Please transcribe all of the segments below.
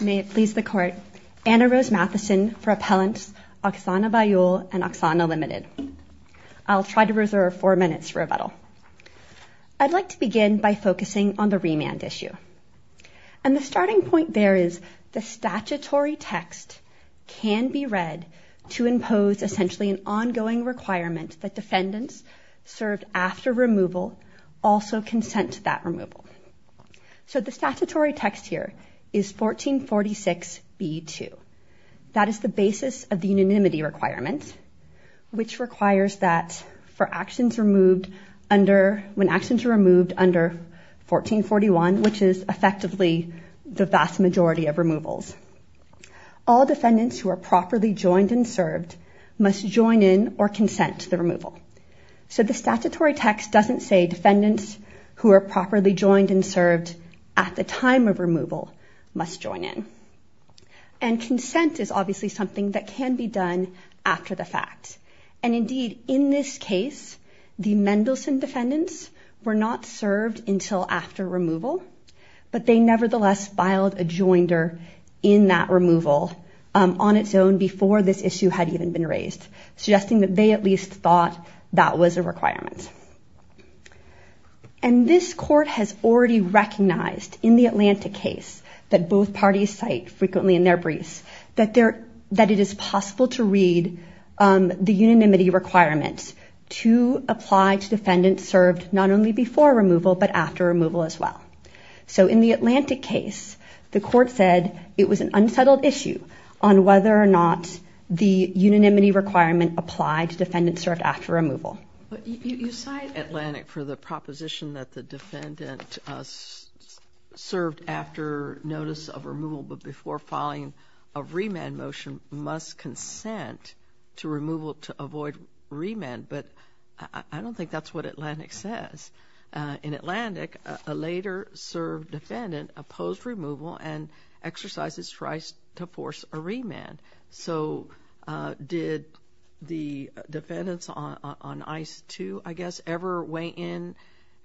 May it please the court, Anna Rose Matheson for Appellants, Oksana Baiul and Oksana Ltd. I'll try to reserve four minutes for rebuttal. I'd like to begin by focusing on the remand issue. And the starting point there is the statutory text can be read to impose essentially an ongoing requirement that defendants served after removal also consent to that removal. So the statutory text here is 1446B2. That is the basis of the unanimity requirement, which requires that for actions removed under, when actions are removed under 1441, which is effectively the vast majority of removals, all defendants who are properly joined and served must join in or consent to the removal. So the statutory text doesn't say defendants who are properly joined and served at the time of removal must join in. And consent is obviously something that can be done after the fact. And indeed, in this case, the Mendelsohn defendants were not served until after removal, but they nevertheless filed a joinder in that removal on its own before this issue had even been raised, suggesting that they at least thought that was a requirement. And this court has already recognized in the Atlantic case that both parties cite frequently in their briefs that it is possible to read the unanimity requirements to apply to defendants served not only before removal, but after removal as well. So in the Atlantic case, the court said it was an unsettled issue on whether or not the unanimity requirement applied to defendants served after removal. But you cite Atlantic for the proposition that the defendant served after notice of removal, but before filing a remand motion must consent to removal to avoid remand. But I don't think that's what Atlantic says. In Atlantic, a later served defendant opposed removal and exercised his right to force a remand. So did the defendants on ICE 2, I guess, ever weigh in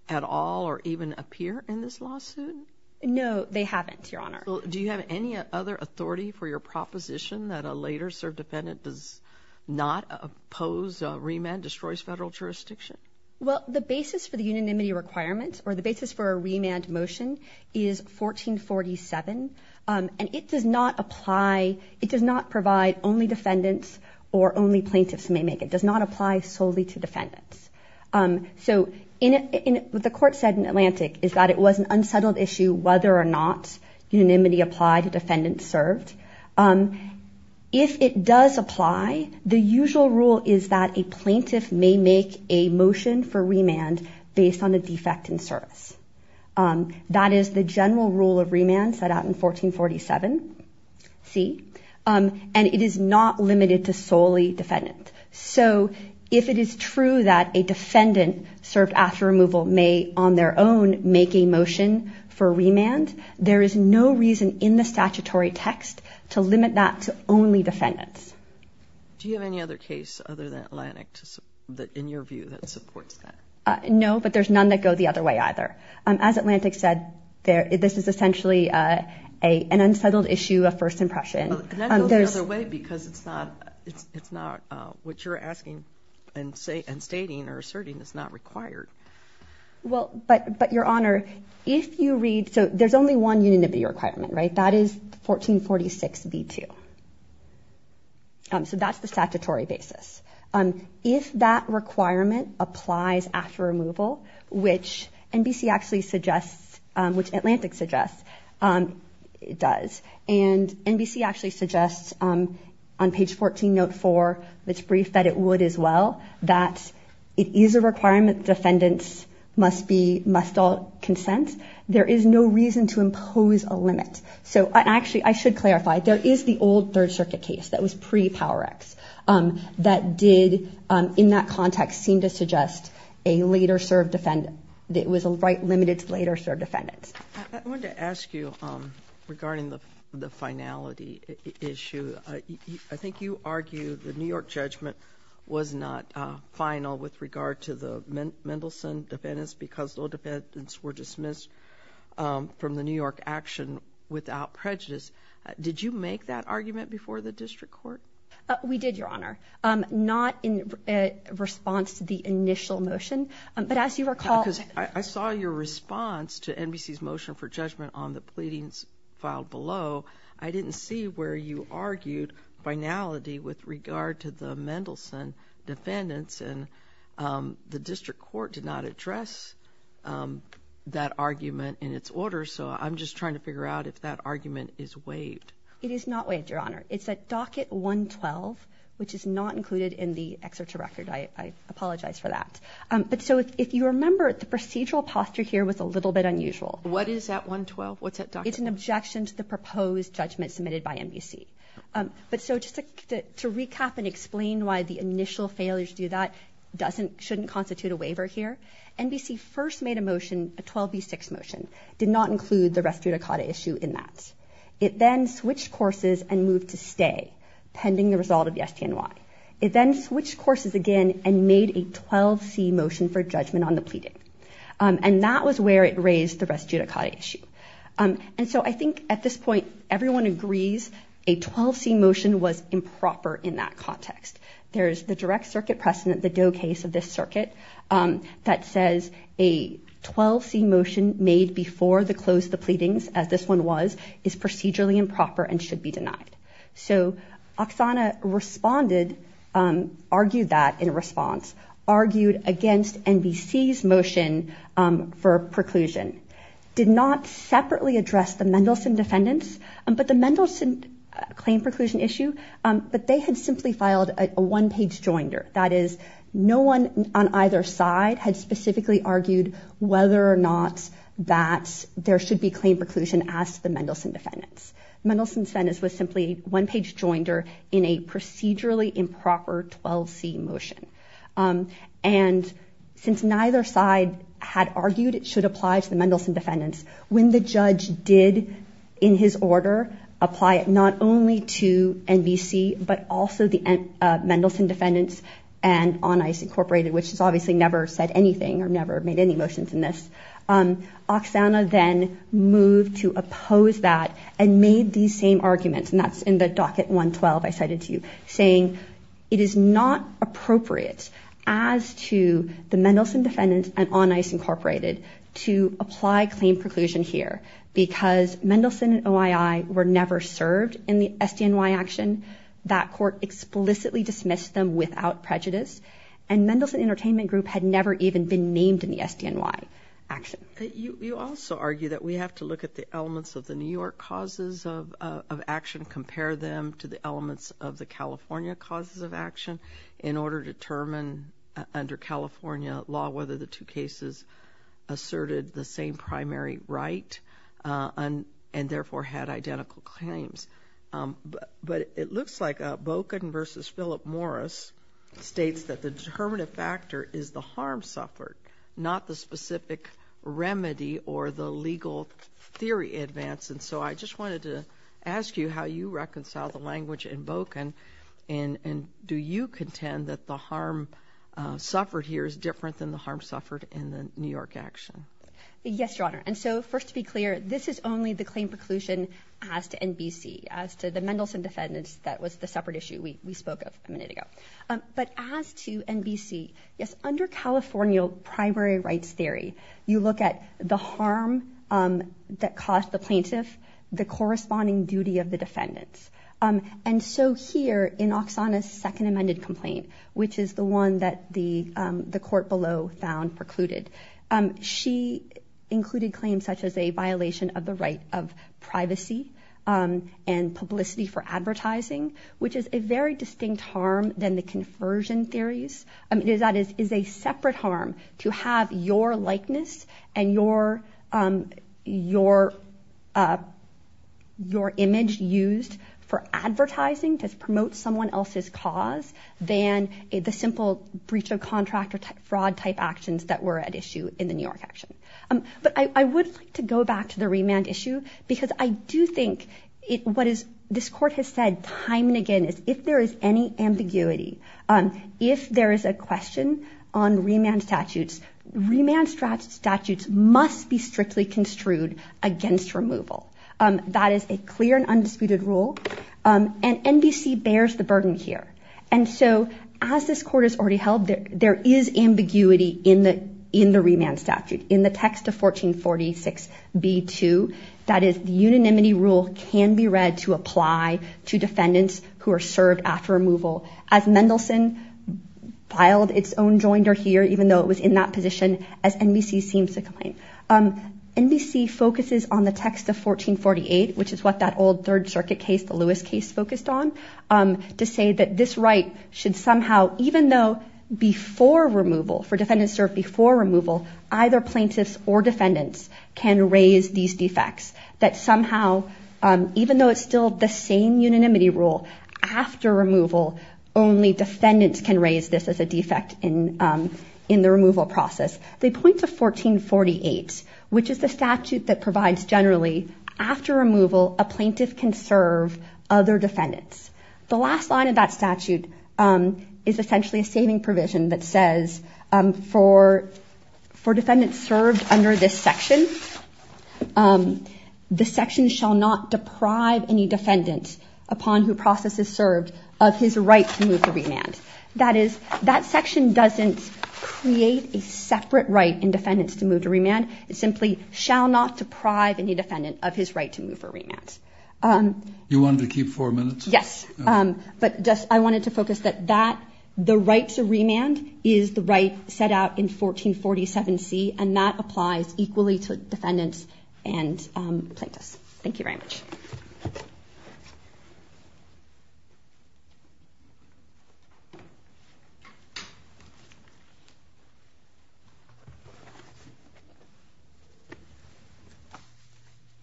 at all or even appear in this lawsuit? No, they haven't, Your Honor. Do you have any other authority for your proposition that a later served defendant does not oppose remand, destroys federal jurisdiction? Well, the basis for the unanimity requirement or the basis for a remand motion is 1447, and it does not apply, it does not provide only defendants or only plaintiffs may make it. It does not apply solely to defendants. So what the court said in Atlantic is that it was an unsettled issue whether or not unanimity applied to defendants served. If it does apply, the usual rule is that a plaintiff may make a motion for remand based on a defect in service. That is the general rule of remand set out in 1447C, and it is not limited to solely defendants. So if it is true that a defendant served after removal may on their own make a motion for remand, there is no reason in the statutory text to limit that to only defendants. Do you have any other case other than Atlantic in your view that supports that? No, but there's none that go the other way either. As Atlantic said, this is essentially an unsettled issue of first impression. That goes the other way because it's not what you're asking and stating or asserting is not required. Well, but Your Honor, if you read, so there's only one unanimity requirement, right? That is 1446B2. So that's the statutory basis. If that requirement applies after removal, which NBC actually suggests, which Atlantic suggests it does, and NBC actually suggests on page 14, note 4, it's briefed that it would as well, that it is a requirement defendants must all consent. There is no reason to impose a limit. So actually, I should clarify, there is the old Third Circuit case that was pre-Power Act that did in that context seem to suggest a later served defendant. It was a right limited to later served defendants. I wanted to ask you regarding the finality issue. I think you argue the New York judgment was not final with regard to the Mendelsohn defendants because those defendants were dismissed from the New York action without prejudice. Did you make that argument before the district court? We did, Your Honor, not in response to the initial motion. I saw your response to NBC's motion for judgment on the pleadings filed below. I didn't see where you argued finality with regard to the Mendelsohn defendants, and the district court did not address that argument in its order. So I'm just trying to figure out if that argument is waived. It is not waived, Your Honor. It's at docket 112, which is not included in the exerture record. I apologize for that. But so if you remember, the procedural posture here was a little bit unusual. What is that 112? What's that docket? It's an objection to the proposed judgment submitted by NBC. But so just to recap and explain why the initial failure to do that shouldn't constitute a waiver here, NBC first made a motion, a 12B6 motion. It did not include the res judicata issue in that. It then switched courses and moved to stay pending the result of the STNY. It then switched courses again and made a 12C motion for judgment on the pleading. And that was where it raised the res judicata issue. And so I think at this point everyone agrees a 12C motion was improper in that context. There's the direct circuit precedent, the Doe case of this circuit, that says a 12C motion made before the close of the pleadings, as this one was, is procedurally improper and should be denied. So Oksana responded, argued that in response, argued against NBC's motion for preclusion. Did not separately address the Mendelsohn defendants, but the Mendelsohn claim preclusion issue, but they had simply filed a one-page joinder. That is, no one on either side had specifically argued whether or not that there should be claim preclusion as to the Mendelsohn defendants. Mendelsohn's sentence was simply a one-page joinder in a procedurally improper 12C motion. And since neither side had argued it should apply to the Mendelsohn defendants, when the judge did, in his order, apply it not only to NBC, but also the Mendelsohn defendants and On Ice Incorporated, which has obviously never said anything or never made any motions in this, Oksana then moved to oppose that and made these same arguments, and that's in the docket 112 I cited to you, saying it is not appropriate as to the Mendelsohn defendants and On Ice Incorporated to apply claim preclusion here because Mendelsohn and OII were never served in the SDNY action. That court explicitly dismissed them without prejudice, and Mendelsohn Entertainment Group had never even been named in the SDNY action. You also argue that we have to look at the elements of the New York causes of action, compare them to the elements of the California causes of action, in order to determine under California law whether the two cases asserted the same primary right and therefore had identical claims. But it looks like Boken versus Philip Morris states that the determinative factor is the harm suffered, not the specific remedy or the legal theory advance, and so I just wanted to ask you how you reconcile the language in Boken, and do you contend that the harm suffered here is different than the harm suffered in the New York action? Yes, Your Honor. And so first to be clear, this is only the claim preclusion as to NBC, as to the Mendelsohn defendants that was the separate issue we spoke of a minute ago. But as to NBC, yes, under California primary rights theory, you look at the harm that caused the plaintiff, the corresponding duty of the defendants. And so here in Oxana's second amended complaint, which is the one that the court below found precluded, she included claims such as a violation of the right of privacy and publicity for advertising, which is a very distinct harm than the conversion theories. That is a separate harm to have your likeness and your image used for advertising to promote someone else's cause than the simple breach of contract or fraud type actions that were at issue in the New York action. But I would like to go back to the remand issue because I do think what this court has said time and again is if there is any ambiguity, if there is a question on remand statutes, remand statutes must be strictly construed against removal. That is a clear and undisputed rule. And NBC bears the burden here. And so as this court has already held, there is ambiguity in the remand statute, in the text of 1446B2. That is the unanimity rule can be read to apply to defendants who are served after removal. As Mendelsohn filed its own joinder here, even though it was in that position, as NBC seems to claim. NBC focuses on the text of 1448, which is what that old Third Circuit case, the Lewis case, focused on, to say that this right should somehow, even though before removal, for defendants served before removal, either plaintiffs or defendants can raise these defects. That somehow, even though it's still the same unanimity rule, after removal, only defendants can raise this as a defect in the removal process. They point to 1448, which is the statute that provides generally, after removal, a plaintiff can serve other defendants. The last line of that statute is essentially a saving provision that says, for defendants served under this section, the section shall not deprive any defendant, upon who process is served, of his right to move to remand. That is, that section doesn't create a separate right in defendants to move to remand. It simply shall not deprive any defendant of his right to move for remand. You wanted to keep four minutes? Yes. But I wanted to focus that the right to remand is the right set out in 1447C, and that applies equally to defendants and plaintiffs. Thank you very much.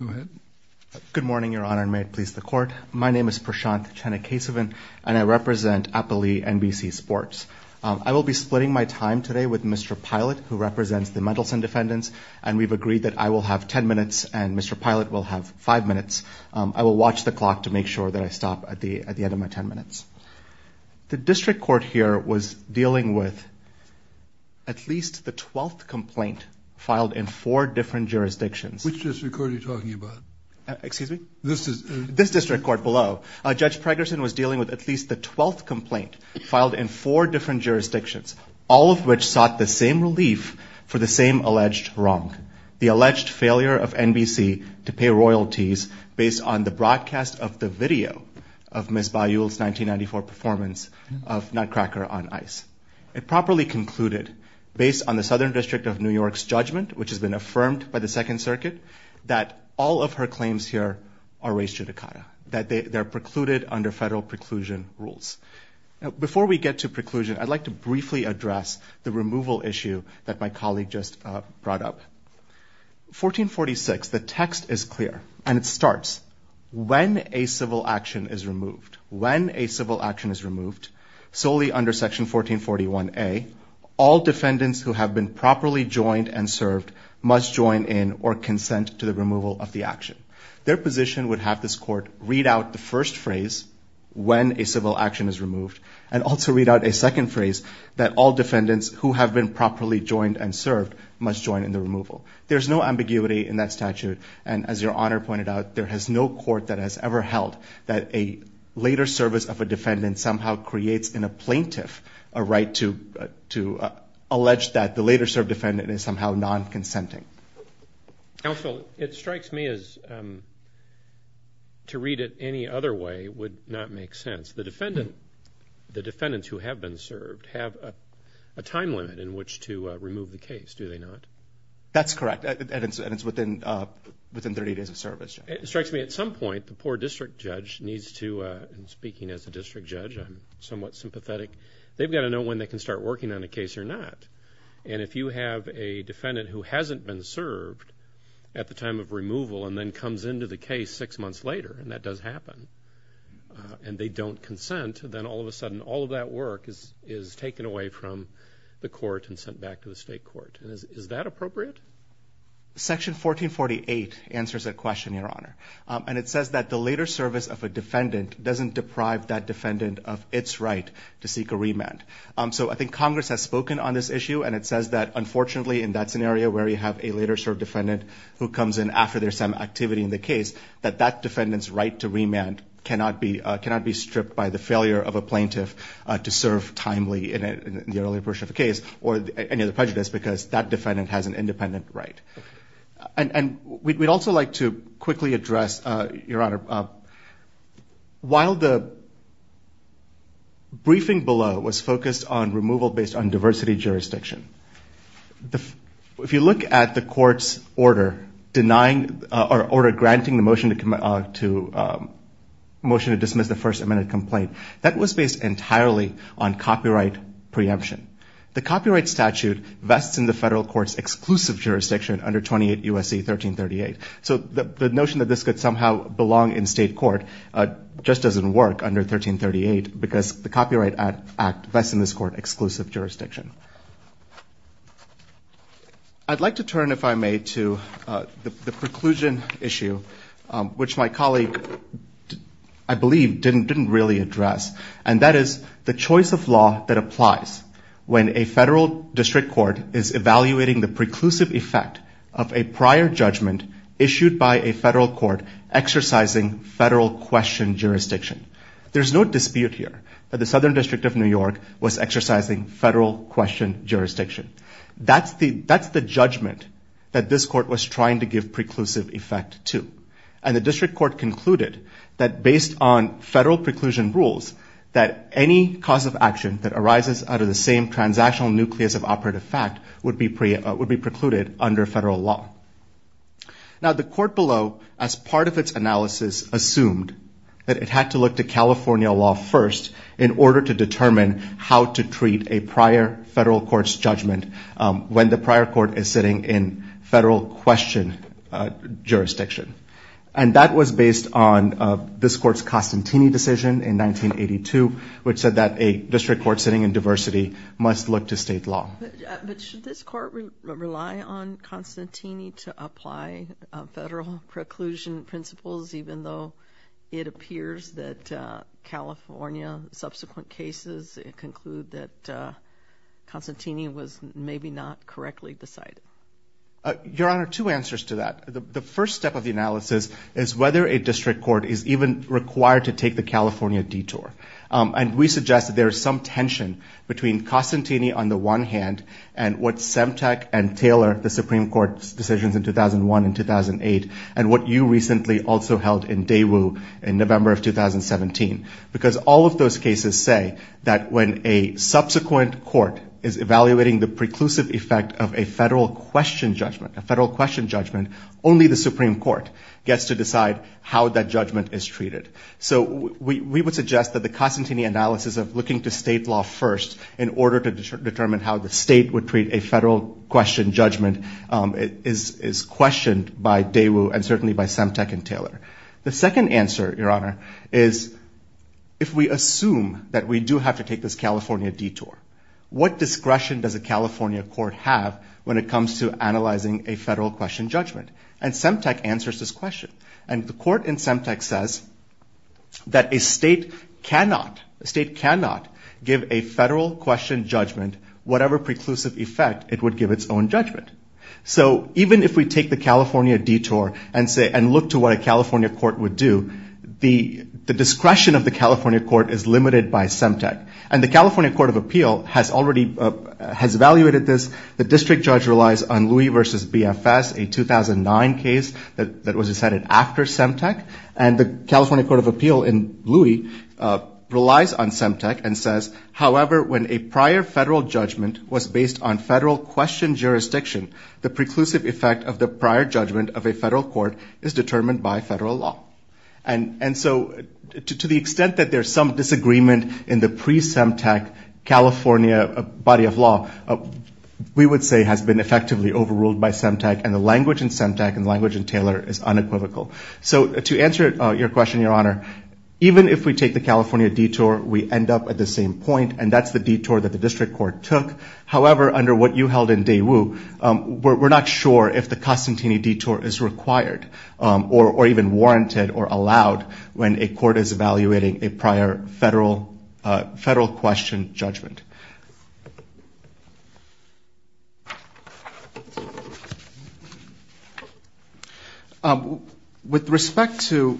Go ahead. Good morning, Your Honor, and may it please the Court. My name is Prashanth Chennakesavan, and I represent Appali NBC Sports. I will be splitting my time today with Mr. Pilot, who represents the Mendelsohn defendants, and we've agreed that I will have ten minutes and Mr. Pilot will have five minutes. I will watch the clock to make sure that I stop at the end of my ten minutes. The district court here was dealing with at least the twelfth complaint filed in four different jurisdictions. Which district court are you talking about? Excuse me? This district court below. Judge Pregerson was dealing with at least the twelfth complaint filed in four different jurisdictions, all of which sought the same relief for the same alleged wrong, the alleged failure of NBC to pay royalties based on the broadcast of the video of Ms. Bayou's 1994 performance of Nutcracker on Ice. It properly concluded, based on the Southern District of New York's judgment, which has been affirmed by the Second Circuit, that all of her claims here are raised judicata, that they're precluded under federal preclusion rules. Now, before we get to preclusion, I'd like to briefly address the removal issue that my colleague just brought up. 1446, the text is clear, and it starts, when a civil action is removed, when a civil action is removed, solely under section 1441A, all defendants who have been properly joined and served must join in or consent to the removal of the action. Their position would have this court read out the first phrase, when a civil action is removed, and also read out a second phrase, that all defendants who have been properly joined and served must join in the removal. There's no ambiguity in that statute, and as Your Honor pointed out, there is no court that has ever held that a later service of a defendant somehow creates in a plaintiff a right to allege that the later served defendant is somehow non-consenting. Counsel, it strikes me as to read it any other way would not make sense. The defendants who have been served have a time limit in which to remove the case, do they not? That's correct, and it's within 30 days of service, Your Honor. It strikes me at some point, the poor district judge needs to, speaking as a district judge, I'm somewhat sympathetic, they've got to know when they can start working on a case or not. And if you have a defendant who hasn't been served at the time of removal and then comes into the case six months later, and that does happen, and they don't consent, then all of a sudden all of that work is taken away from the court and sent back to the state court. Is that appropriate? Section 1448 answers that question, Your Honor, and it says that the later service of a defendant doesn't deprive that defendant of its right to seek a remand. So I think Congress has spoken on this issue, and it says that unfortunately in that scenario where you have a later served defendant who comes in after there's some activity in the case, that that defendant's right to remand cannot be stripped by the failure of a plaintiff to serve timely in the earlier portion of the case or any of the prejudice because that defendant has an independent right. And we'd also like to quickly address, Your Honor, while the briefing below was focused on removal based on diversity jurisdiction, if you look at the court's order denying or granting the motion to dismiss the first amended complaint, that was based entirely on copyright preemption. The copyright statute vests in the federal court's exclusive jurisdiction under 28 U.S.C. 1338. So the notion that this could somehow belong in state court just doesn't work under 1338 because the Copyright Act vests in this court exclusive jurisdiction. I'd like to turn, if I may, to the preclusion issue, which my colleague, I believe, didn't really address, and that is the choice of law that applies when a federal district court is evaluating the preclusive effect of a prior judgment issued by a federal court exercising federal question jurisdiction. There's no dispute here that the Southern District of New York was exercising federal question jurisdiction. That's the judgment that this court was trying to give preclusive effect to. And the district court concluded that based on federal preclusion rules that any cause of action that arises out of the same transactional nucleus of operative fact would be precluded under federal law. Now, the court below, as part of its analysis, assumed that it had to look to California law first in order to determine how to treat a prior federal court's judgment when the prior court is sitting in federal question jurisdiction. And that was based on this court's Constantini decision in 1982, which said that a district court sitting in diversity must look to state law. But should this court rely on Constantini to apply federal preclusion principles, even though it appears that California's subsequent cases conclude that Constantini was maybe not correctly decided? Your Honor, two answers to that. The first step of the analysis is whether a district court is even required to take the California detour. And we suggest that there is some tension between Constantini on the one hand and what Semtec and Taylor, the Supreme Court's decisions in 2001 and 2008, and what you recently also held in Daewoo in November of 2017. Because all of those cases say that when a subsequent court is evaluating the preclusive effect of a federal question judgment, a federal question judgment, only the Supreme Court gets to decide how that judgment is treated. So we would suggest that the Constantini analysis of looking to state law first in order to determine how the state would treat a federal question judgment is questioned by Daewoo and certainly by Semtec and Taylor. The second answer, Your Honor, is if we assume that we do have to take this California detour, what discretion does a California court have when it comes to analyzing a federal question judgment? And Semtec answers this question. And the court in Semtec says that a state cannot give a federal question judgment whatever preclusive effect it would give its own judgment. So even if we take the California detour and look to what a California court would do, the discretion of the California court is limited by Semtec. And the California Court of Appeal has already evaluated this. The district judge relies on Louis v. BFS, a 2009 case that was decided after Semtec. And the California Court of Appeal in Louis relies on Semtec and says, however, when a prior federal judgment was based on federal question jurisdiction, the preclusive effect of the prior judgment of a federal court is determined by federal law. And so to the extent that there's some disagreement in the pre-Semtec California body of law, we would say has been effectively overruled by Semtec, and the language in Semtec and the language in Taylor is unequivocal. So to answer your question, Your Honor, even if we take the California detour, we end up at the same point, and that's the detour that the district court took. However, under what you held in Daewoo, we're not sure if the Constantini detour is required or even warranted or allowed when a court is evaluating a prior federal question judgment. With respect to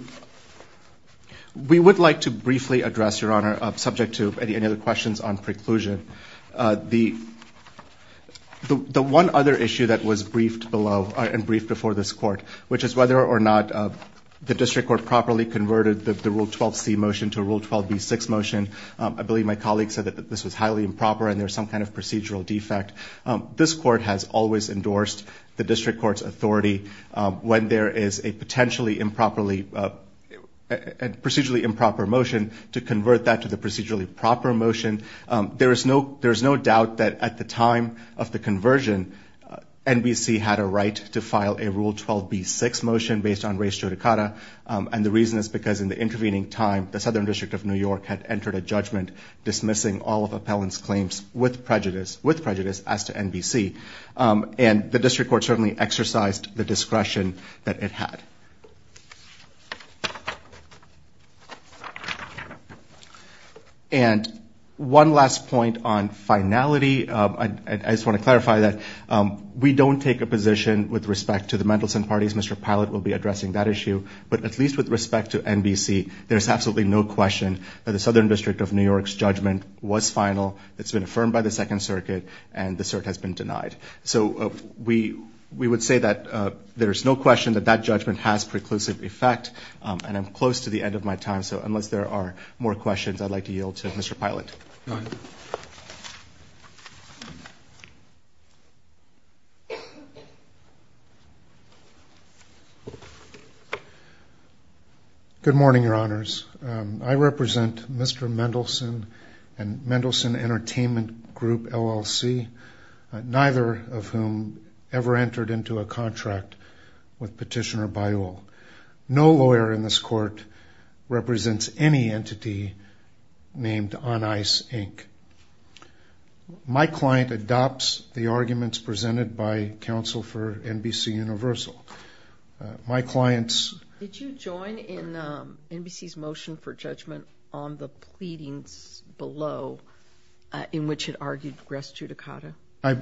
we would like to briefly address, Your Honor, subject to any other questions on preclusion, the one other issue that was briefed before this court, which is whether or not the district court properly converted the Rule 12C motion to a Rule 12B6 motion. I believe my colleague said that this was highly improper and there's some kind of procedural defect. This court has always endorsed the district court's authority when there is a procedurally improper motion to convert that to the procedurally proper motion. There is no doubt that at the time of the conversion, NBC had a right to file a Rule 12B6 motion based on race judicata. And the reason is because in the intervening time, the Southern District of New York had entered a judgment dismissing all of Appellant's claims with prejudice as to NBC. And the district court certainly exercised the discretion that it had. And one last point on finality. I just want to clarify that. We don't take a position with respect to the Mendelson parties. Mr. Pallett will be addressing that issue. But at least with respect to NBC, there's absolutely no question that the Southern District of New York's judgment was final. It's been affirmed by the Second Circuit and the cert has been denied. It has preclusive effect. And I'm close to the end of my time, so unless there are more questions, I'd like to yield to Mr. Pallett. Good morning, Your Honors. I represent Mr. Mendelson and Mendelson Entertainment Group, LLC, neither of whom ever entered into a contract with Petitioner Bayou. No lawyer in this court represents any entity named On Ice, Inc. My client adopts the arguments presented by counsel for NBC Universal. My client's... Did you join in NBC's motion for judgment on the pleadings below in which it argued race judicata?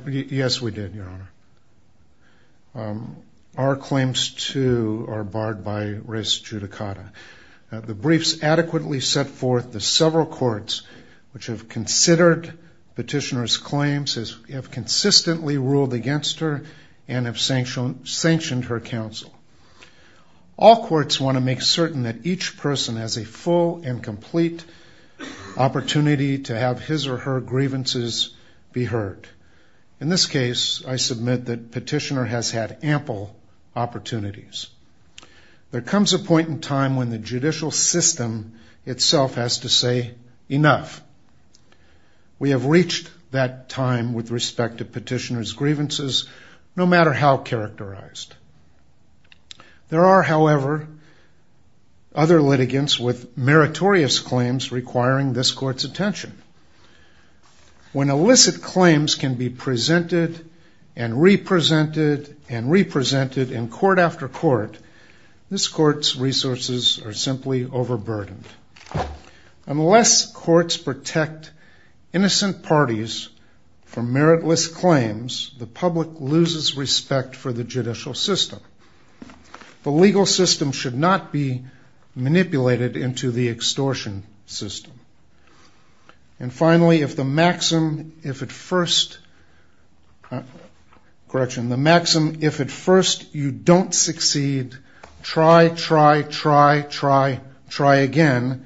Yes, we did, Your Honor. Our claims, too, are barred by race judicata. The briefs adequately set forth the several courts which have considered Petitioner's claims, have consistently ruled against her, and have sanctioned her counsel. All courts want to make certain that each person has a full and complete opportunity to have his or her grievances be heard. In this case, I submit that Petitioner has had ample opportunities. There comes a point in time when the judicial system itself has to say, enough. We have reached that time with respect to Petitioner's grievances, no matter how characterized. There are, however, other litigants with meritorious claims requiring this court's attention. When illicit claims can be presented and re-presented and re-presented in court after court, this court's resources are simply overburdened. Unless courts protect innocent parties from meritless claims, the public loses respect for the judicial system. The legal system should not be manipulated into the extortion system. And finally, if at first you don't succeed, try, try, try, try, try again,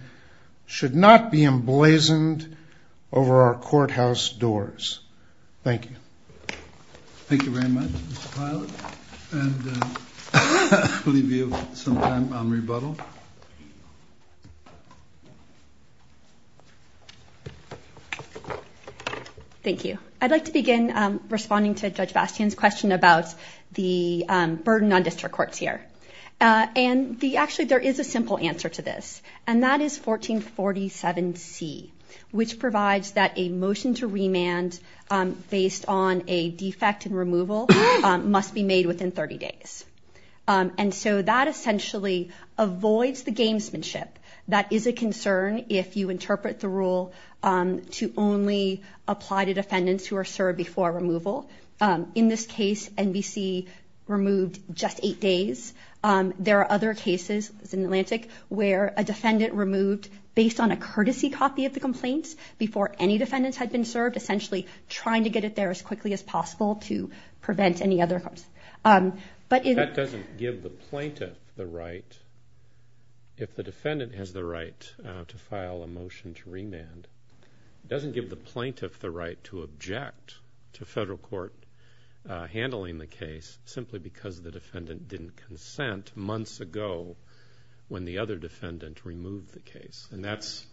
should not be emblazoned over our courthouse doors. Thank you. Thank you. I'd like to begin responding to Judge Bastian's question about the burden on district courts here. And actually, there is a simple answer to this, and that is 1447C, which provides that a motion to remand based on a defect in removal must be made within 30 days. And so that essentially avoids the gamesmanship that is a concern if you interpret the rule in a way that makes it look like a game. And so, in this case, the court decided to only apply to defendants who are served before removal. In this case, NBC removed just eight days. There are other cases in Atlantic where a defendant removed based on a courtesy copy of the complaints before any defendants had been served, essentially trying to get it there as quickly as possible to prevent any other. That doesn't give the plaintiff the right, if the defendant has the right, to file a motion to remand. It doesn't give the plaintiff the right to object to federal court handling the case simply because the defendant didn't consent months ago when the other defendant removed the case. And that's,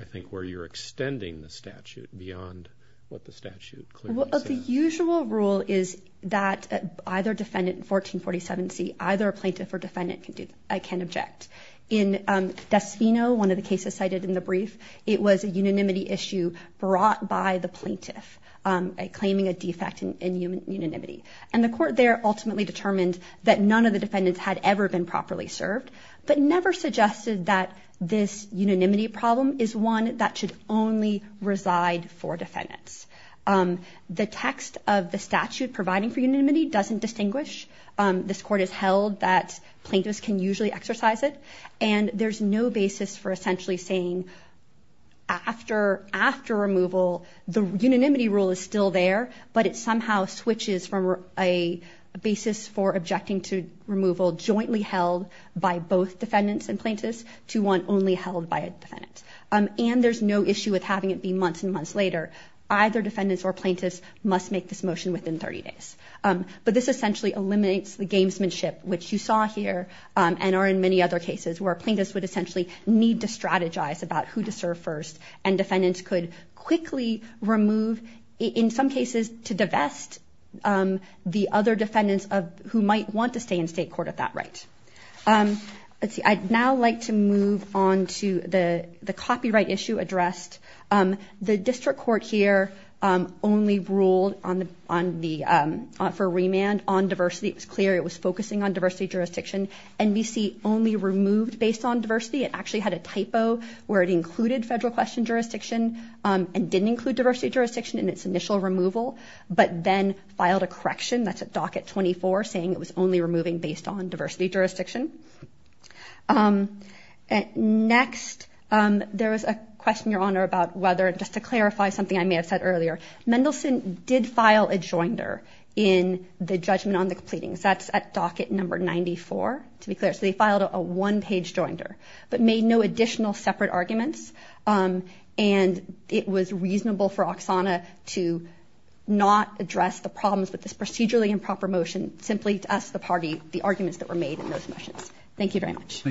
I think, where you're extending the statute beyond what the statute clearly says. Well, the usual rule is that either defendant in 1447C, either plaintiff or defendant, can object. In Desvino, one of the cases cited in the brief, it was a unanimity issue brought by the plaintiff claiming a defect in unanimity. And the court there ultimately determined that none of the defendants had ever been properly served, but never suggested that this unanimity problem is one that should only reside for defendants. The text of the statute providing for unanimity doesn't distinguish. This court has held that plaintiffs can usually exercise it. And there's no basis for essentially saying after removal, the unanimity rule is still there, but it somehow switches from a basis for objecting to removal jointly held by both defendants and plaintiffs to one only held by a defendant. And there's no issue with having it be months and months later. Either defendants or plaintiffs must make this motion within 30 days. But this essentially eliminates the gamesmanship, which you saw here, and are in many other cases, where plaintiffs would essentially need to strategize about who to serve first, and defendants could quickly remove, in some cases, to divest the other defendants who might want to stay in state court at that rate. I'd now like to move on to the copyright issue addressed. The district court here only ruled for remand on diversity. It was clear it was focusing on diversity jurisdiction. NBC only removed based on diversity. It actually had a typo where it included federal question jurisdiction, and didn't include diversity jurisdiction in its initial removal, but then filed a correction. That's at docket 24, saying it was only removing based on diversity jurisdiction. Next, there was a question, Your Honor, about whether, just to clarify something I may have said earlier, Mendelsohn did file a joinder in the judgment on the pleadings. That's at docket number 94, to be clear. So they filed a one-page joinder, but made no additional separate arguments, and it was reasonable for Oksana to not address the problems with this procedurally improper motion, simply to ask the party the arguments that were made in those motions. Thank you very much.